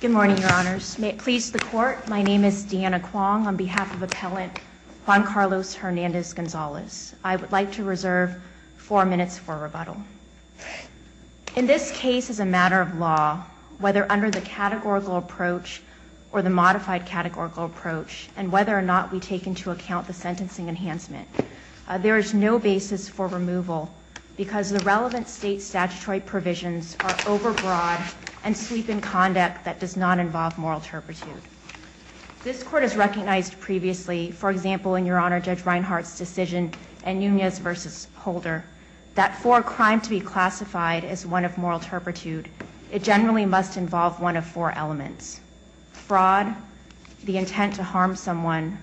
Good morning, Your Honors. May it please the Court, my name is Deanna Kwong on behalf of Appellant Juan Carlos Hernandez-Gonzalez. I would like to reserve four minutes for rebuttal. In this case, as a matter of law, whether under the categorical approach or the modified categorical approach, and whether or not we take into account the sentencing enhancement, there is no basis for removal because the relevant state statutory provisions are overbroad and sweep in conduct that does not involve moral turpitude. This Court has recognized previously, for example, in Your Honor, Judge Reinhart's decision in Nunez v. Holder, that for a crime to be classified as one of moral turpitude, it generally must involve one of four elements, fraud, the intent to harm someone,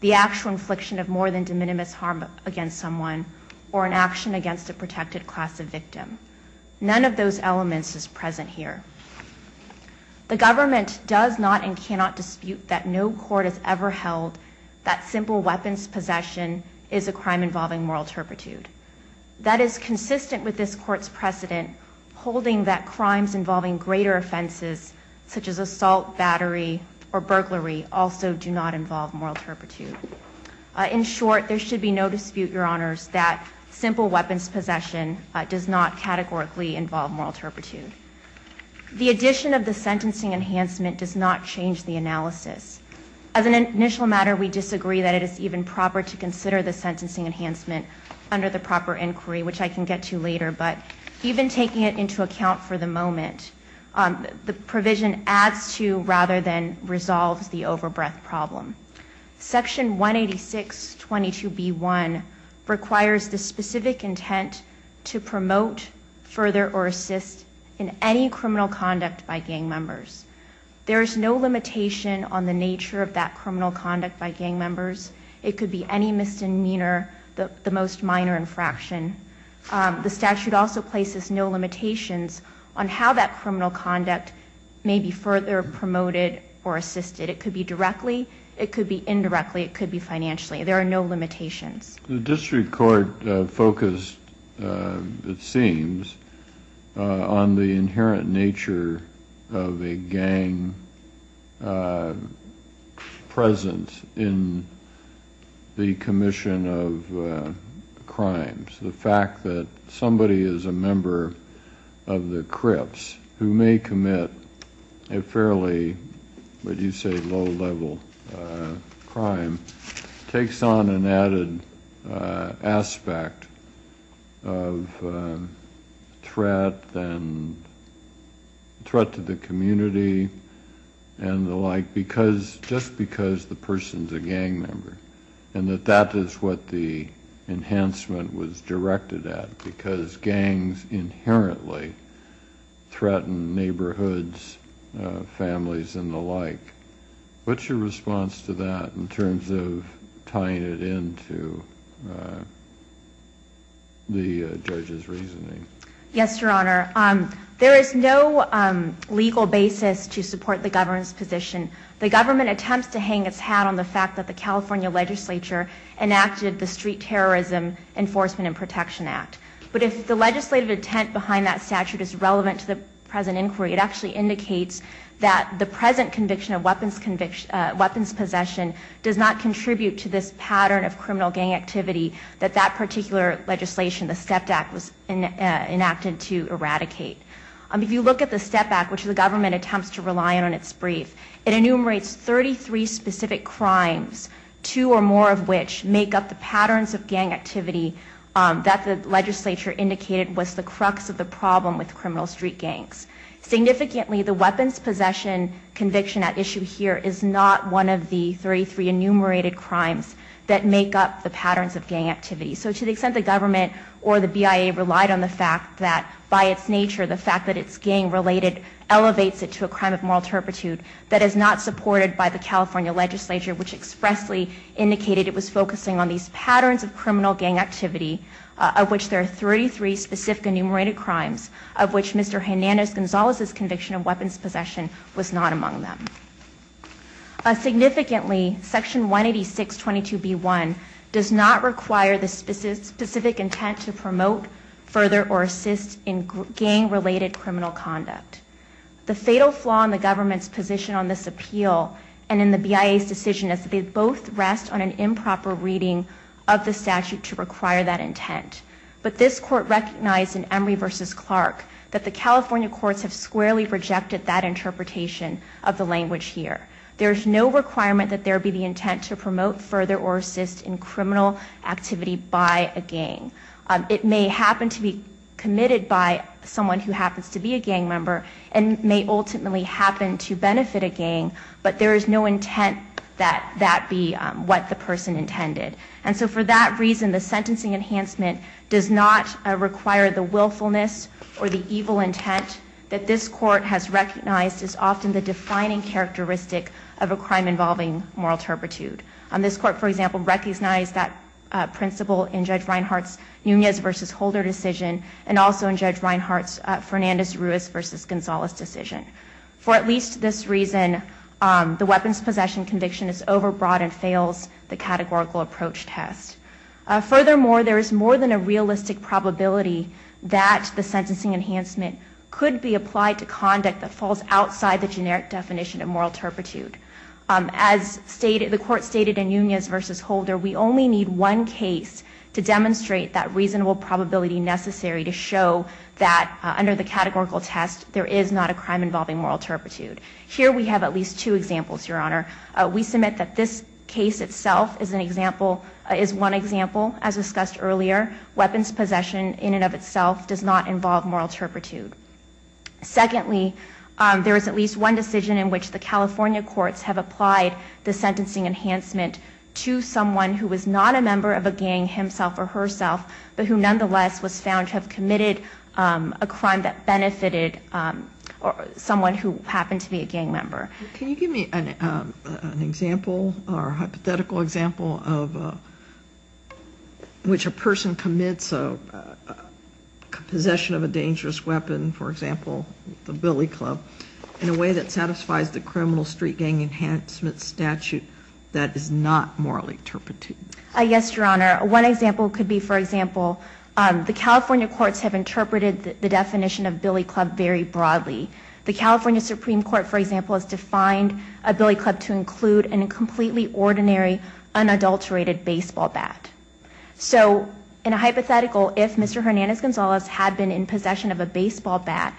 the actual infliction of more than de minimis harm against someone, or an action against a protected class of victim. None of those elements is present here. The government does not and cannot dispute that no court has ever held that simple weapons possession is a crime involving moral turpitude. That is consistent with this Court's precedent holding that crimes involving greater offenses such as assault, battery, or burglary also do not involve moral turpitude. In short, there should be no dispute, Your Honors, that simple weapons possession does not categorically involve moral turpitude. The addition of the sentencing enhancement does not change the analysis. As an initial matter, we disagree that it is even proper to consider the sentencing enhancement under the proper inquiry, which I can get to later, but even taking it into account for the moment, the provision adds to rather than resolves the overbreadth problem. Section 18622B1 requires the specific intent to promote, further, or assist in any criminal conduct by gang members. There is no limitation on the nature of that criminal conduct by gang members. It could be any misdemeanor, the most minor infraction. The statute also places no limitations on how that criminal conduct may be further promoted or assisted. It could be directly, it could be indirectly, it could be financially. There are no limitations. The district court focused, it seems, on the inherent nature of a gang presence in the commission of crimes. The fact that somebody is a member of the Crips who may commit a fairly, would you say, low-level crime takes on an added aspect of threat and threat to the community and the like because, just because the person's a gang member and that that is what the enhancement was directed at because gangs inherently threaten neighborhoods, families, and the like. What's your response to that in terms of tying it into the judge's reasoning? Yes, Your Honor. There is no legal basis to support the government's position. The government attempts to hang its hat on the fact that the California legislature enacted the Street Terrorism Enforcement and Protection Act, but if the legislative intent behind that statute is relevant to the present inquiry, it actually indicates that the present conviction of weapons possession does not contribute to this pattern of criminal gang activity that that particular legislation, the STEP Act, was enacted to eradicate. If you look at the STEP Act, which the government attempts to rely on in its brief, it enumerates 33 specific crimes, two or more of which make up the patterns of gang activity that the legislature indicated was the crux of the problem with criminal street gangs. Significantly, the weapons possession conviction at issue here is not one of the 33 enumerated crimes that make up the patterns of gang activity. So to the extent the government or the BIA relied on the fact that, by its nature, the crime of moral turpitude, that is not supported by the California legislature, which expressly indicated it was focusing on these patterns of criminal gang activity, of which there are 33 specific enumerated crimes, of which Mr. Hernandez-Gonzalez's conviction of weapons possession was not among them. Significantly, Section 18622B1 does not require the specific intent to promote, further, or assist in gang-related criminal conduct. The fatal flaw in the government's position on this appeal and in the BIA's decision is that they both rest on an improper reading of the statute to require that intent. But this Court recognized in Emory v. Clark that the California courts have squarely rejected that interpretation of the language here. There's no requirement that there be the intent to promote, further, or assist in criminal activity by a gang. It may happen to be committed by someone who happens to be a gang member and may ultimately happen to benefit a gang, but there is no intent that that be what the person intended. And so for that reason, the sentencing enhancement does not require the willfulness or the evil intent that this Court has recognized is often the defining characteristic of a crime involving moral turpitude. This Court, for example, recognized that principle in Judge Reinhart's Nunez v. Holder decision and also in Judge Reinhart's Fernandez-Ruiz v. Gonzalez decision. For at least this reason, the weapons possession conviction is overbroad and fails the categorical approach test. Furthermore, there is more than a realistic probability that the sentencing enhancement could be applied to conduct that falls outside the generic definition of moral turpitude. As the Court stated in Nunez v. Holder, we only need one case to demonstrate that reasonable probability necessary to show that, under the categorical test, there is not a crime involving moral turpitude. Here we have at least two examples, Your Honor. We submit that this case itself is one example, as discussed earlier. Weapons possession in and of itself does not involve moral turpitude. Secondly, there is at least one decision in which the California courts have applied the sentencing enhancement to someone who is not a member of a gang himself or herself, but who nonetheless was found to have committed a crime that benefited someone who happened to be a gang member. Can you give me an example or hypothetical example of which a person commits a possession of a dangerous weapon, for example, the billy club, in a way that satisfies the criminal street gang enhancement statute that is not morally turpitude? Yes, Your Honor. One example could be, for example, the California courts have interpreted the definition of billy club very broadly. The California Supreme Court, for example, has defined a billy club to include a completely ordinary, unadulterated baseball bat. So in a hypothetical, if Mr. Hernandez-Gonzalez had been in possession of a baseball bat,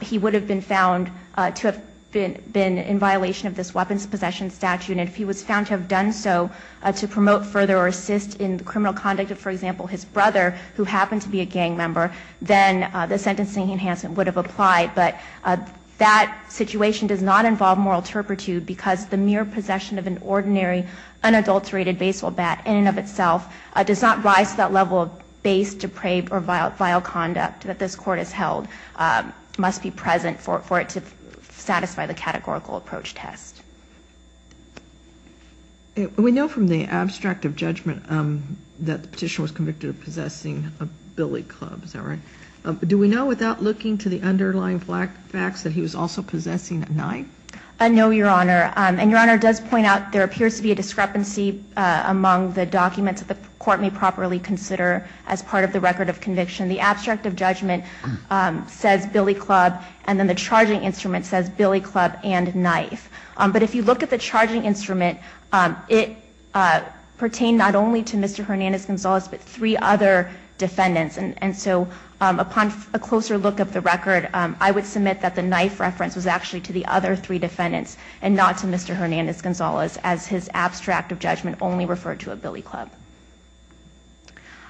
he would have been found to have been in violation of this weapons possession statute, and if he was found to have done so to promote further or assist in the criminal conduct of, for example, his brother, who happened to be a gang member, then the sentencing enhancement would have applied. But that situation does not involve moral turpitude because the mere possession of an unadulterated baseball bat does not rise to that level of base, depraved, or vile conduct that this Court has held must be present for it to satisfy the categorical approach test. We know from the abstract of judgment that the petitioner was convicted of possessing a billy club, is that right? Do we know without looking to the underlying facts that he was also possessing a knife? No, Your Honor. And Your Honor does point out there appears to be a discrepancy among the documents at this point that the Court may properly consider as part of the record of conviction. The abstract of judgment says billy club, and then the charging instrument says billy club and knife. But if you look at the charging instrument, it pertained not only to Mr. Hernandez-Gonzalez but three other defendants. And so upon a closer look at the record, I would submit that the knife reference was actually to the other three defendants and not to Mr. Hernandez-Gonzalez as his abstract of judgment only referred to a billy club.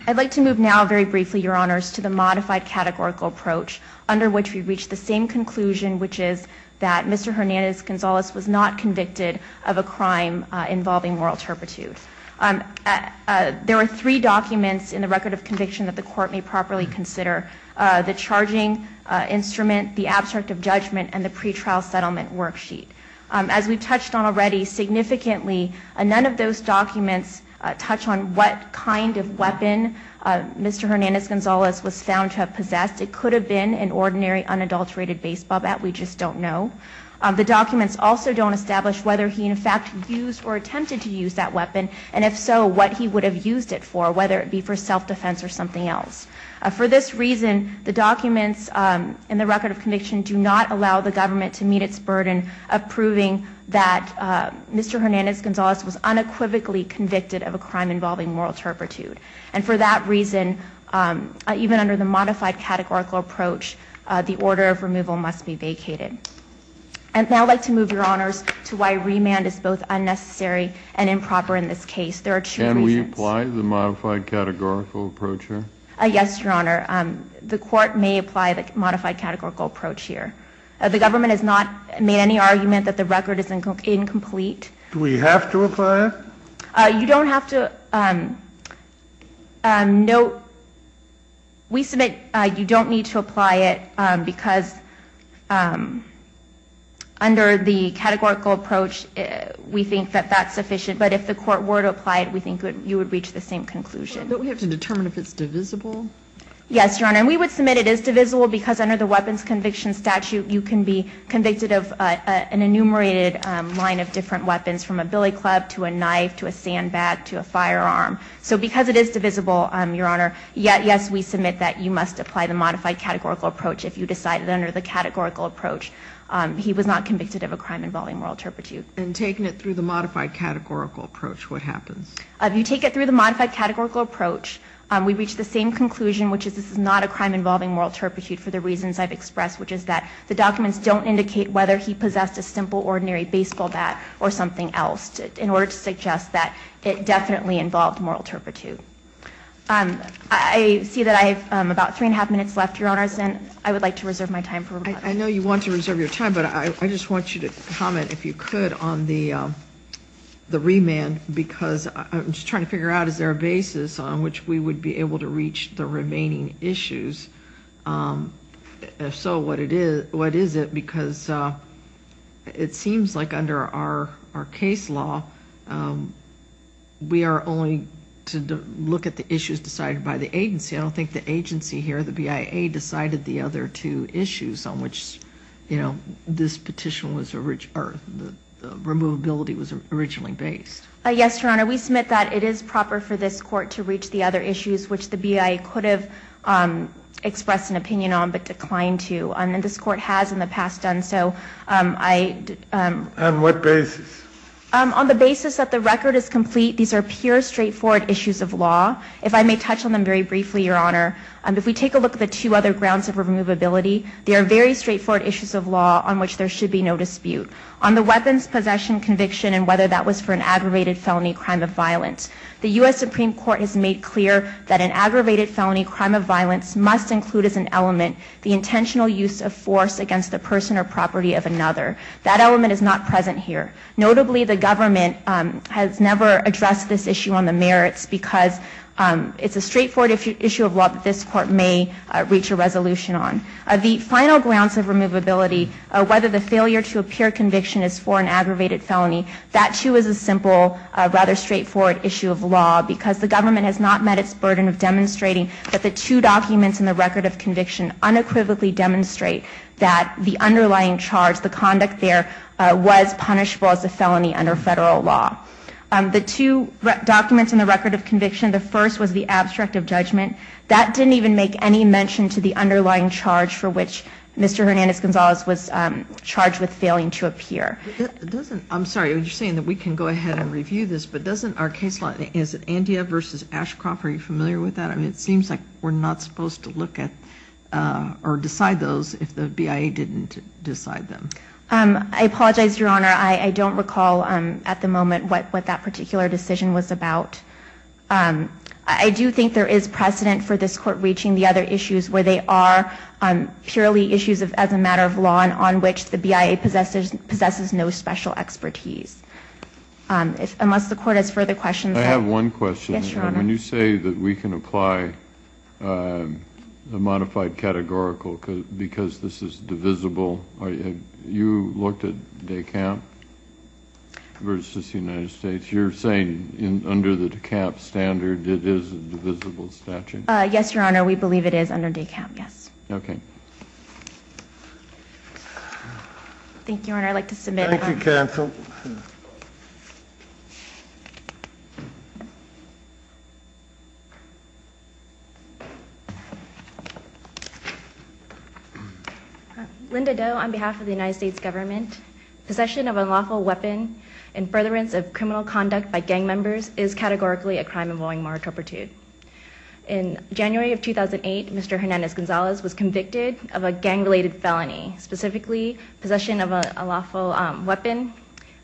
I'd like to move now very briefly, Your Honors, to the modified categorical approach under which we've reached the same conclusion, which is that Mr. Hernandez-Gonzalez was not convicted of a crime involving moral turpitude. There are three documents in the record of conviction that the Court may properly consider, the charging instrument, the abstract of judgment, and the pretrial settlement worksheet. As we've touched on already significantly, none of those documents touch on what kind of weapon Mr. Hernandez-Gonzalez was found to have possessed. It could have been an ordinary unadulterated baseball bat. We just don't know. The documents also don't establish whether he in fact used or attempted to use that weapon, and if so, what he would have used it for, whether it be for self-defense or something else. For this reason, the documents in the record of conviction do not allow the government to meet its burden of proving that Mr. Hernandez-Gonzalez was unequivocally convicted of a crime involving moral turpitude. And for that reason, even under the modified categorical approach, the order of removal must be vacated. And now I'd like to move, Your Honors, to why remand is both unnecessary and improper in this case. There are two reasons. Can we apply the modified categorical approach here? Yes, Your Honor. The Court may apply the modified categorical approach here. The government has not made any argument that the record is incomplete. Do we have to apply it? You don't have to. No, we submit you don't need to apply it, because under the categorical approach, we think that that's sufficient. But if the Court were to apply it, we think you would reach the same conclusion. But we have to determine if it's divisible. Yes, Your Honor. And we would submit it is divisible, because under the weapons conviction statute, you can be convicted of an enumerated line of different weapons, from a billy club to a knife to a sandbag to a firearm. So because it is divisible, Your Honor, yes, we submit that you must apply the modified categorical approach if you decide that under the categorical approach, he was not convicted of a crime involving moral turpitude. And taking it through the modified categorical approach, what happens? You take it through the modified categorical approach. We reach the same conclusion, which is this is not a crime involving moral turpitude for the reasons I've expressed, which is that the documents don't indicate whether he possessed a simple, ordinary baseball bat or something else, in order to suggest that it definitely involved moral turpitude. I see that I have about three and a half minutes left, Your Honors, and I would like to reserve my time for rebuttal. I know you want to reserve your time, but I just want you to comment, if you could, on the remand, because I'm just trying to figure out, is there a basis on which we would be able to reach the remaining issues? If so, what is it? Because it seems like under our case law, we are only to look at the issues decided by the agency. I don't think the agency here, the BIA, decided the other two issues on which this petition was, or the removability was originally based. Yes, Your Honor. We submit that it is proper for this Court to reach the other issues, which the BIA could have expressed an opinion on, but declined to. This Court has in the past done so. On what basis? On the basis that the record is complete. These are pure, straightforward issues of law. If I may touch on them very briefly, Your Honor, if we take a look at the two other grounds of removability, they are very straightforward issues of law on which there should be no dispute. On the weapons possession conviction, and whether that was for an aggravated felony crime of violence, the U.S. Supreme Court has made clear that an aggravated felony crime of violence must include as an element the intentional use of force against the person or property of another. That element is not present here. Notably, the government has never addressed this issue on the merits, because it's a straightforward issue of law that this Court may reach a resolution on. The final grounds of removability, whether the failure to appear conviction is for an aggravated felony, that too is a simple, rather straightforward issue of law, because the government has not met its burden of demonstrating that the two documents in the record of conviction unequivocally demonstrate that the underlying charge, the conduct there, was punishable as a felony under Federal law. The two documents in the record of conviction, the first was the abstract of judgment. That didn't even make any mention to the underlying charge for which Mr. Hernandez-Gonzalez was charged with failing to appear. I'm sorry, you're saying that we can go ahead and review this, but doesn't our case line, is it Andia v. Ashcroft, are you familiar with that? It seems like we're not supposed to look at or decide those if the BIA didn't decide them. I apologize, Your Honor. I don't recall at the moment what that particular decision was about. I do think there is precedent for this Court reaching the other issues where they are purely issues as a matter of law and on which the BIA possesses no special expertise. Unless the Court has further questions. I have one question. Yes, Your Honor. When you say that we can apply a modified categorical because this is divisible, you looked at DECAP versus the United States. You're saying under the DECAP standard, it is a divisible statute? Yes, Your Honor. We believe it is under DECAP, yes. Okay. Thank you, Your Honor. I'd like to submit. Thank you, counsel. Linda Do, on behalf of the United States government, possession of unlawful weapon and furtherance of criminal conduct by gang members is categorically a crime involving moral turpitude. In January of 2008, Mr. Hernandez-Gonzalez was convicted of a gang-related felony, specifically possession of a lawful weapon,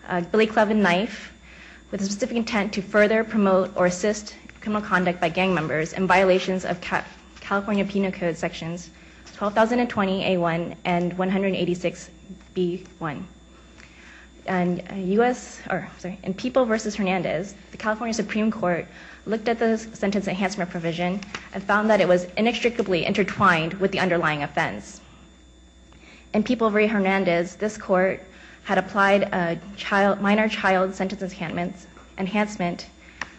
a billy club and knife, with the specific intent to further promote or assist criminal conduct by gang members in violations of California Penal Code Sections 12020A1 and 186B1. In People v. Hernandez, the California Supreme Court looked at the sentence enhancement provision and found that it was inextricably intertwined with the underlying offense. In People v. Hernandez, this court had applied a minor child sentence enhancement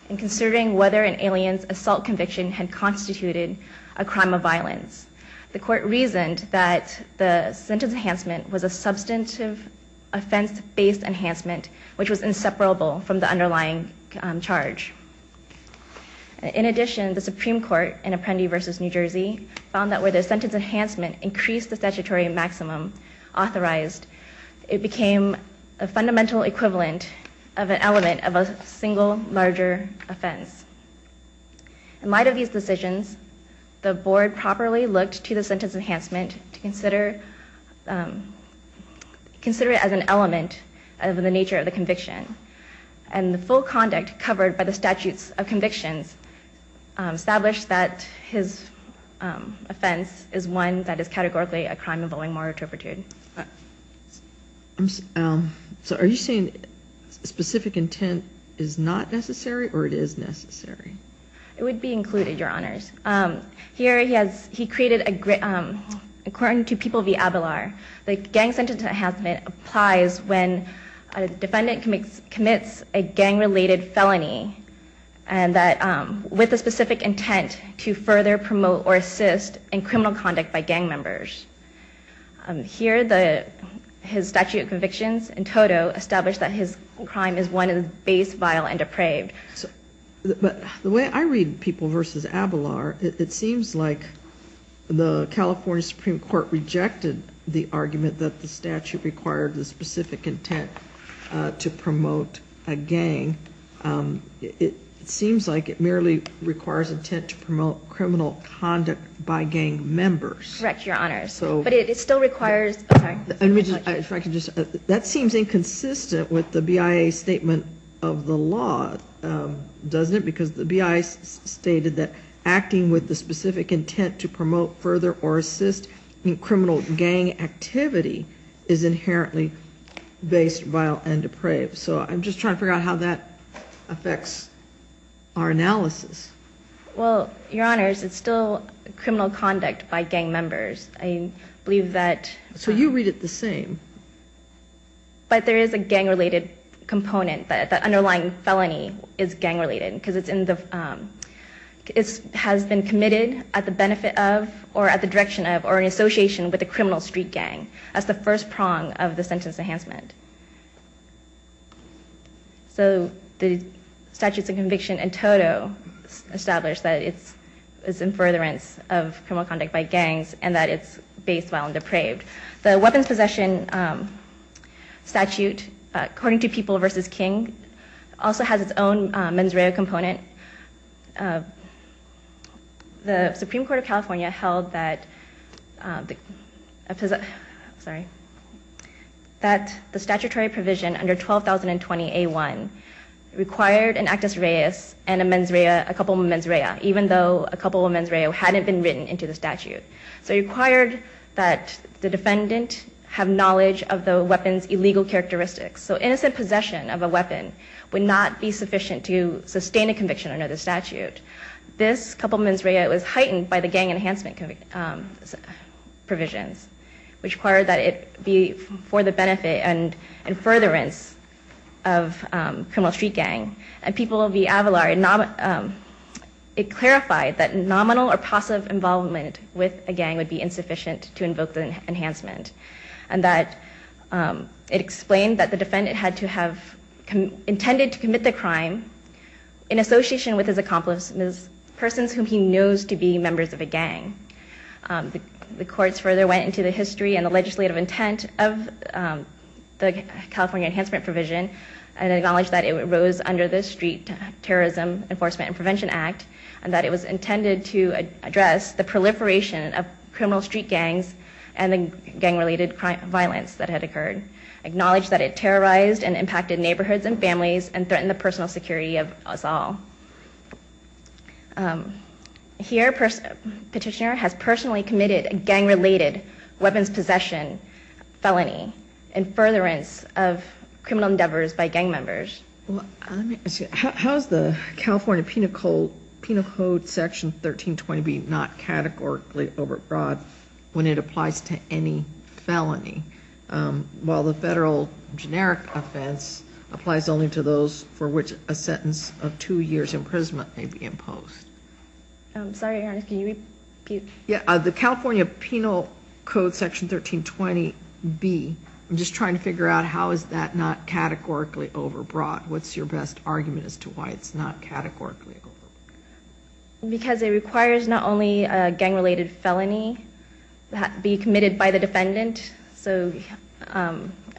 in considering whether an alien's assault conviction had constituted a crime of violence. The court reasoned that the sentence enhancement was a substantive offense-based enhancement, which was inseparable from the underlying charge. In addition, the Supreme Court in Apprendi v. New Jersey found that where the sentence enhancement increased the statutory maximum authorized, it became a fundamental equivalent of an element of a single larger offense. In light of these decisions, the board properly looked to the sentence enhancement to consider it as an element of the nature of the conviction, and the full conduct covered by the statutes of convictions established that his offense is one that is categorically a crime involving moral turpitude. So, are you saying specific intent is not necessary or it is necessary? It would be included, Your Honors. Here he created, according to People v. Abelar, the gang sentence enhancement applies when a defendant commits a gang-related felony with the specific intent to further promote or assist in criminal conduct by gang members. Here his statute of convictions in total established that his crime is one that is base, vile, and depraved. But the way I read People v. Abelar, it seems like the California Supreme Court rejected the argument that the statute required the specific intent to promote a gang. It seems like it merely requires intent to promote criminal conduct by gang members. Correct, Your Honors. But it still requires, I'm sorry. That seems inconsistent with the BIA statement of the law, doesn't it? Because the BIA stated that acting with the specific intent to promote further or assist in criminal gang activity is inherently base, vile, and depraved. So I'm just trying to figure out how that affects our analysis. Well, Your Honors, it's still criminal conduct by gang members. I believe that... So you read it the same. But there is a gang-related component, that underlying felony is gang-related. It has been committed at the benefit of, or at the direction of, or in association with a criminal street gang as the first prong of the sentence enhancement. So the statutes of conviction in total establish that it's in furtherance of criminal conduct by gangs and that it's base, vile, and depraved. The weapons possession statute, according to People v. King, also has its own mens rea component. The Supreme Court of California held that the statutory provision under 12,020A1 required an actus reus and a couple of mens rea, even though a couple of mens rea hadn't been written into the statute. So it required that the defendant have knowledge of the weapon's illegal characteristics. So innocent possession of a weapon would not be sufficient to sustain a conviction under the statute. This couple of mens rea was heightened by the gang enhancement provisions, which required that it be for the benefit and in furtherance of criminal street gang. And People v. Avalar, it clarified that nominal or passive involvement with a gang would be insufficient to invoke the enhancement. And that it explained that the defendant had to have intended to commit the crime in association with his accomplices, persons whom he knows to be members of a gang. The courts further went into the history and the legislative intent of the California enhancement provision and acknowledged that it arose under the Street Terrorism Enforcement and Prevention Act, and that it was intended to address the proliferation of criminal street gangs and the gang-related violence that had occurred. Acknowledged that it terrorized and impacted neighborhoods and families and threatened the personal security of us all. Here, Petitioner has personally committed a gang-related weapons possession felony in furtherance of criminal endeavors by gang members. How is the California Penal Code Section 1320B not categorically overbroad when it applies to any felony, while the federal generic offense applies only to those for which a sentence of two years imprisonment may be imposed? I'm sorry, Your Honor, can you repeat? The California Penal Code Section 1320B, I'm just trying to figure out how is that not categorically overbroad? What's your best argument as to why it's not categorically overbroad? Because it requires not only a gang-related felony be committed by the defendant, so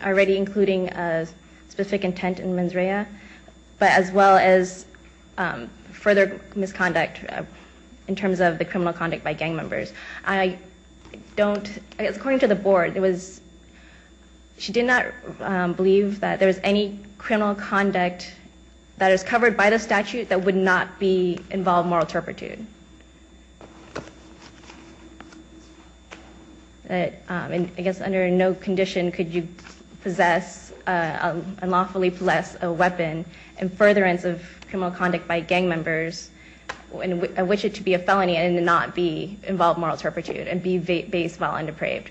already including a specific intent in mens rea, but as well as further misconduct in terms of the criminal conduct by gang members. I don't, according to the board, it was, she did not believe that there was any criminal conduct that is covered by the statute that would not involve moral turpitude. I guess under no condition could you possess, unlawfully possess a weapon in furtherance of criminal conduct by gang members and wish it to be a felony and not involve moral turpitude and be based while undepraved.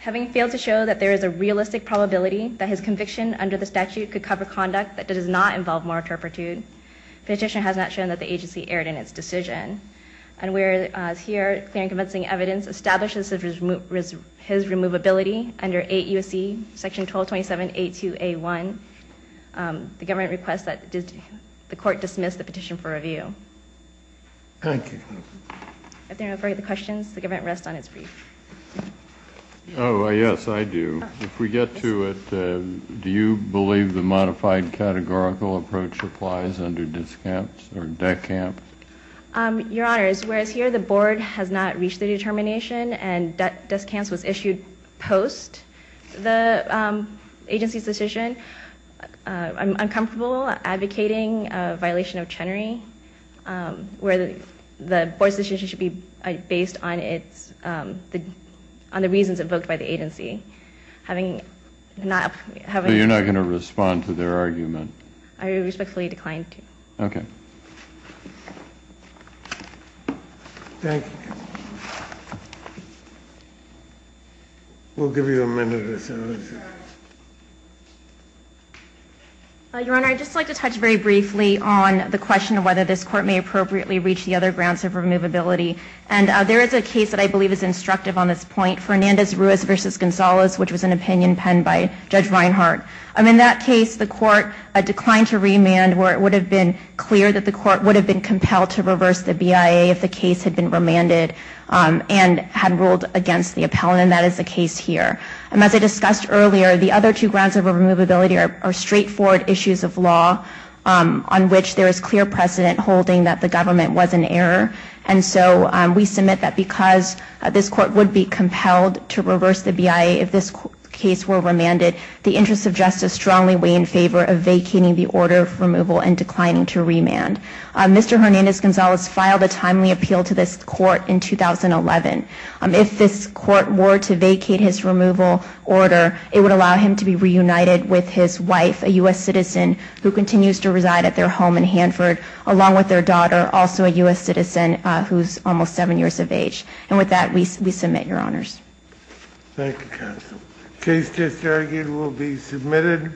Having failed to show that there is a realistic probability that his conviction under the statute could cover conduct that does not involve moral turpitude, the petitioner has not shown that the agency erred in its decision. And whereas here, clear and convincing evidence establishes his removability under 8 U.S.C. Section 1227.8.2.A.1, the government requests that the court dismiss the petition for review. Thank you. If there are no further questions, the government rests on its brief. Oh, yes, I do. If we get to it, do you believe the modified categorical approach applies under DECAMP? Your Honor, whereas here the board has not reached the determination and DECAMP was issued post the agency's decision, I'm uncomfortable advocating a violation of Chenery where the board's decision should be based on the reasons invoked by the agency. So you're not going to respond to their argument? I respectfully decline to. Okay. Thank you. We'll give you a minute or so. Your Honor, I'd just like to touch very briefly on the question of whether this court may appropriately reach the other grounds of removability. And there is a case that I believe is instructive on this point, Fernandez-Ruiz v. Gonzalez, which was an opinion penned by Judge Reinhart. In that case, the court declined to remand where it would have been clear that the court would have been compelled to reverse the BIA if the case had been remanded and had ruled against the appellant. And that is the case here. As I discussed earlier, the other two grounds of removability are straightforward issues of law on which there is clear precedent holding that the government was in error. And so we submit that because this court would be compelled to reverse the BIA if this case were remanded, the interests of justice strongly weigh in favor of vacating the order of removal and declining to remand. Mr. Fernandez-Gonzalez filed a timely appeal to this court in 2011. If this court were to vacate his removal order, it would allow him to be reunited with his wife, a U.S. citizen who continues to reside at their home in Hanford, along with their daughter, also a U.S. citizen who's almost seven years of age. Thank you, counsel. The case disargued will be submitted.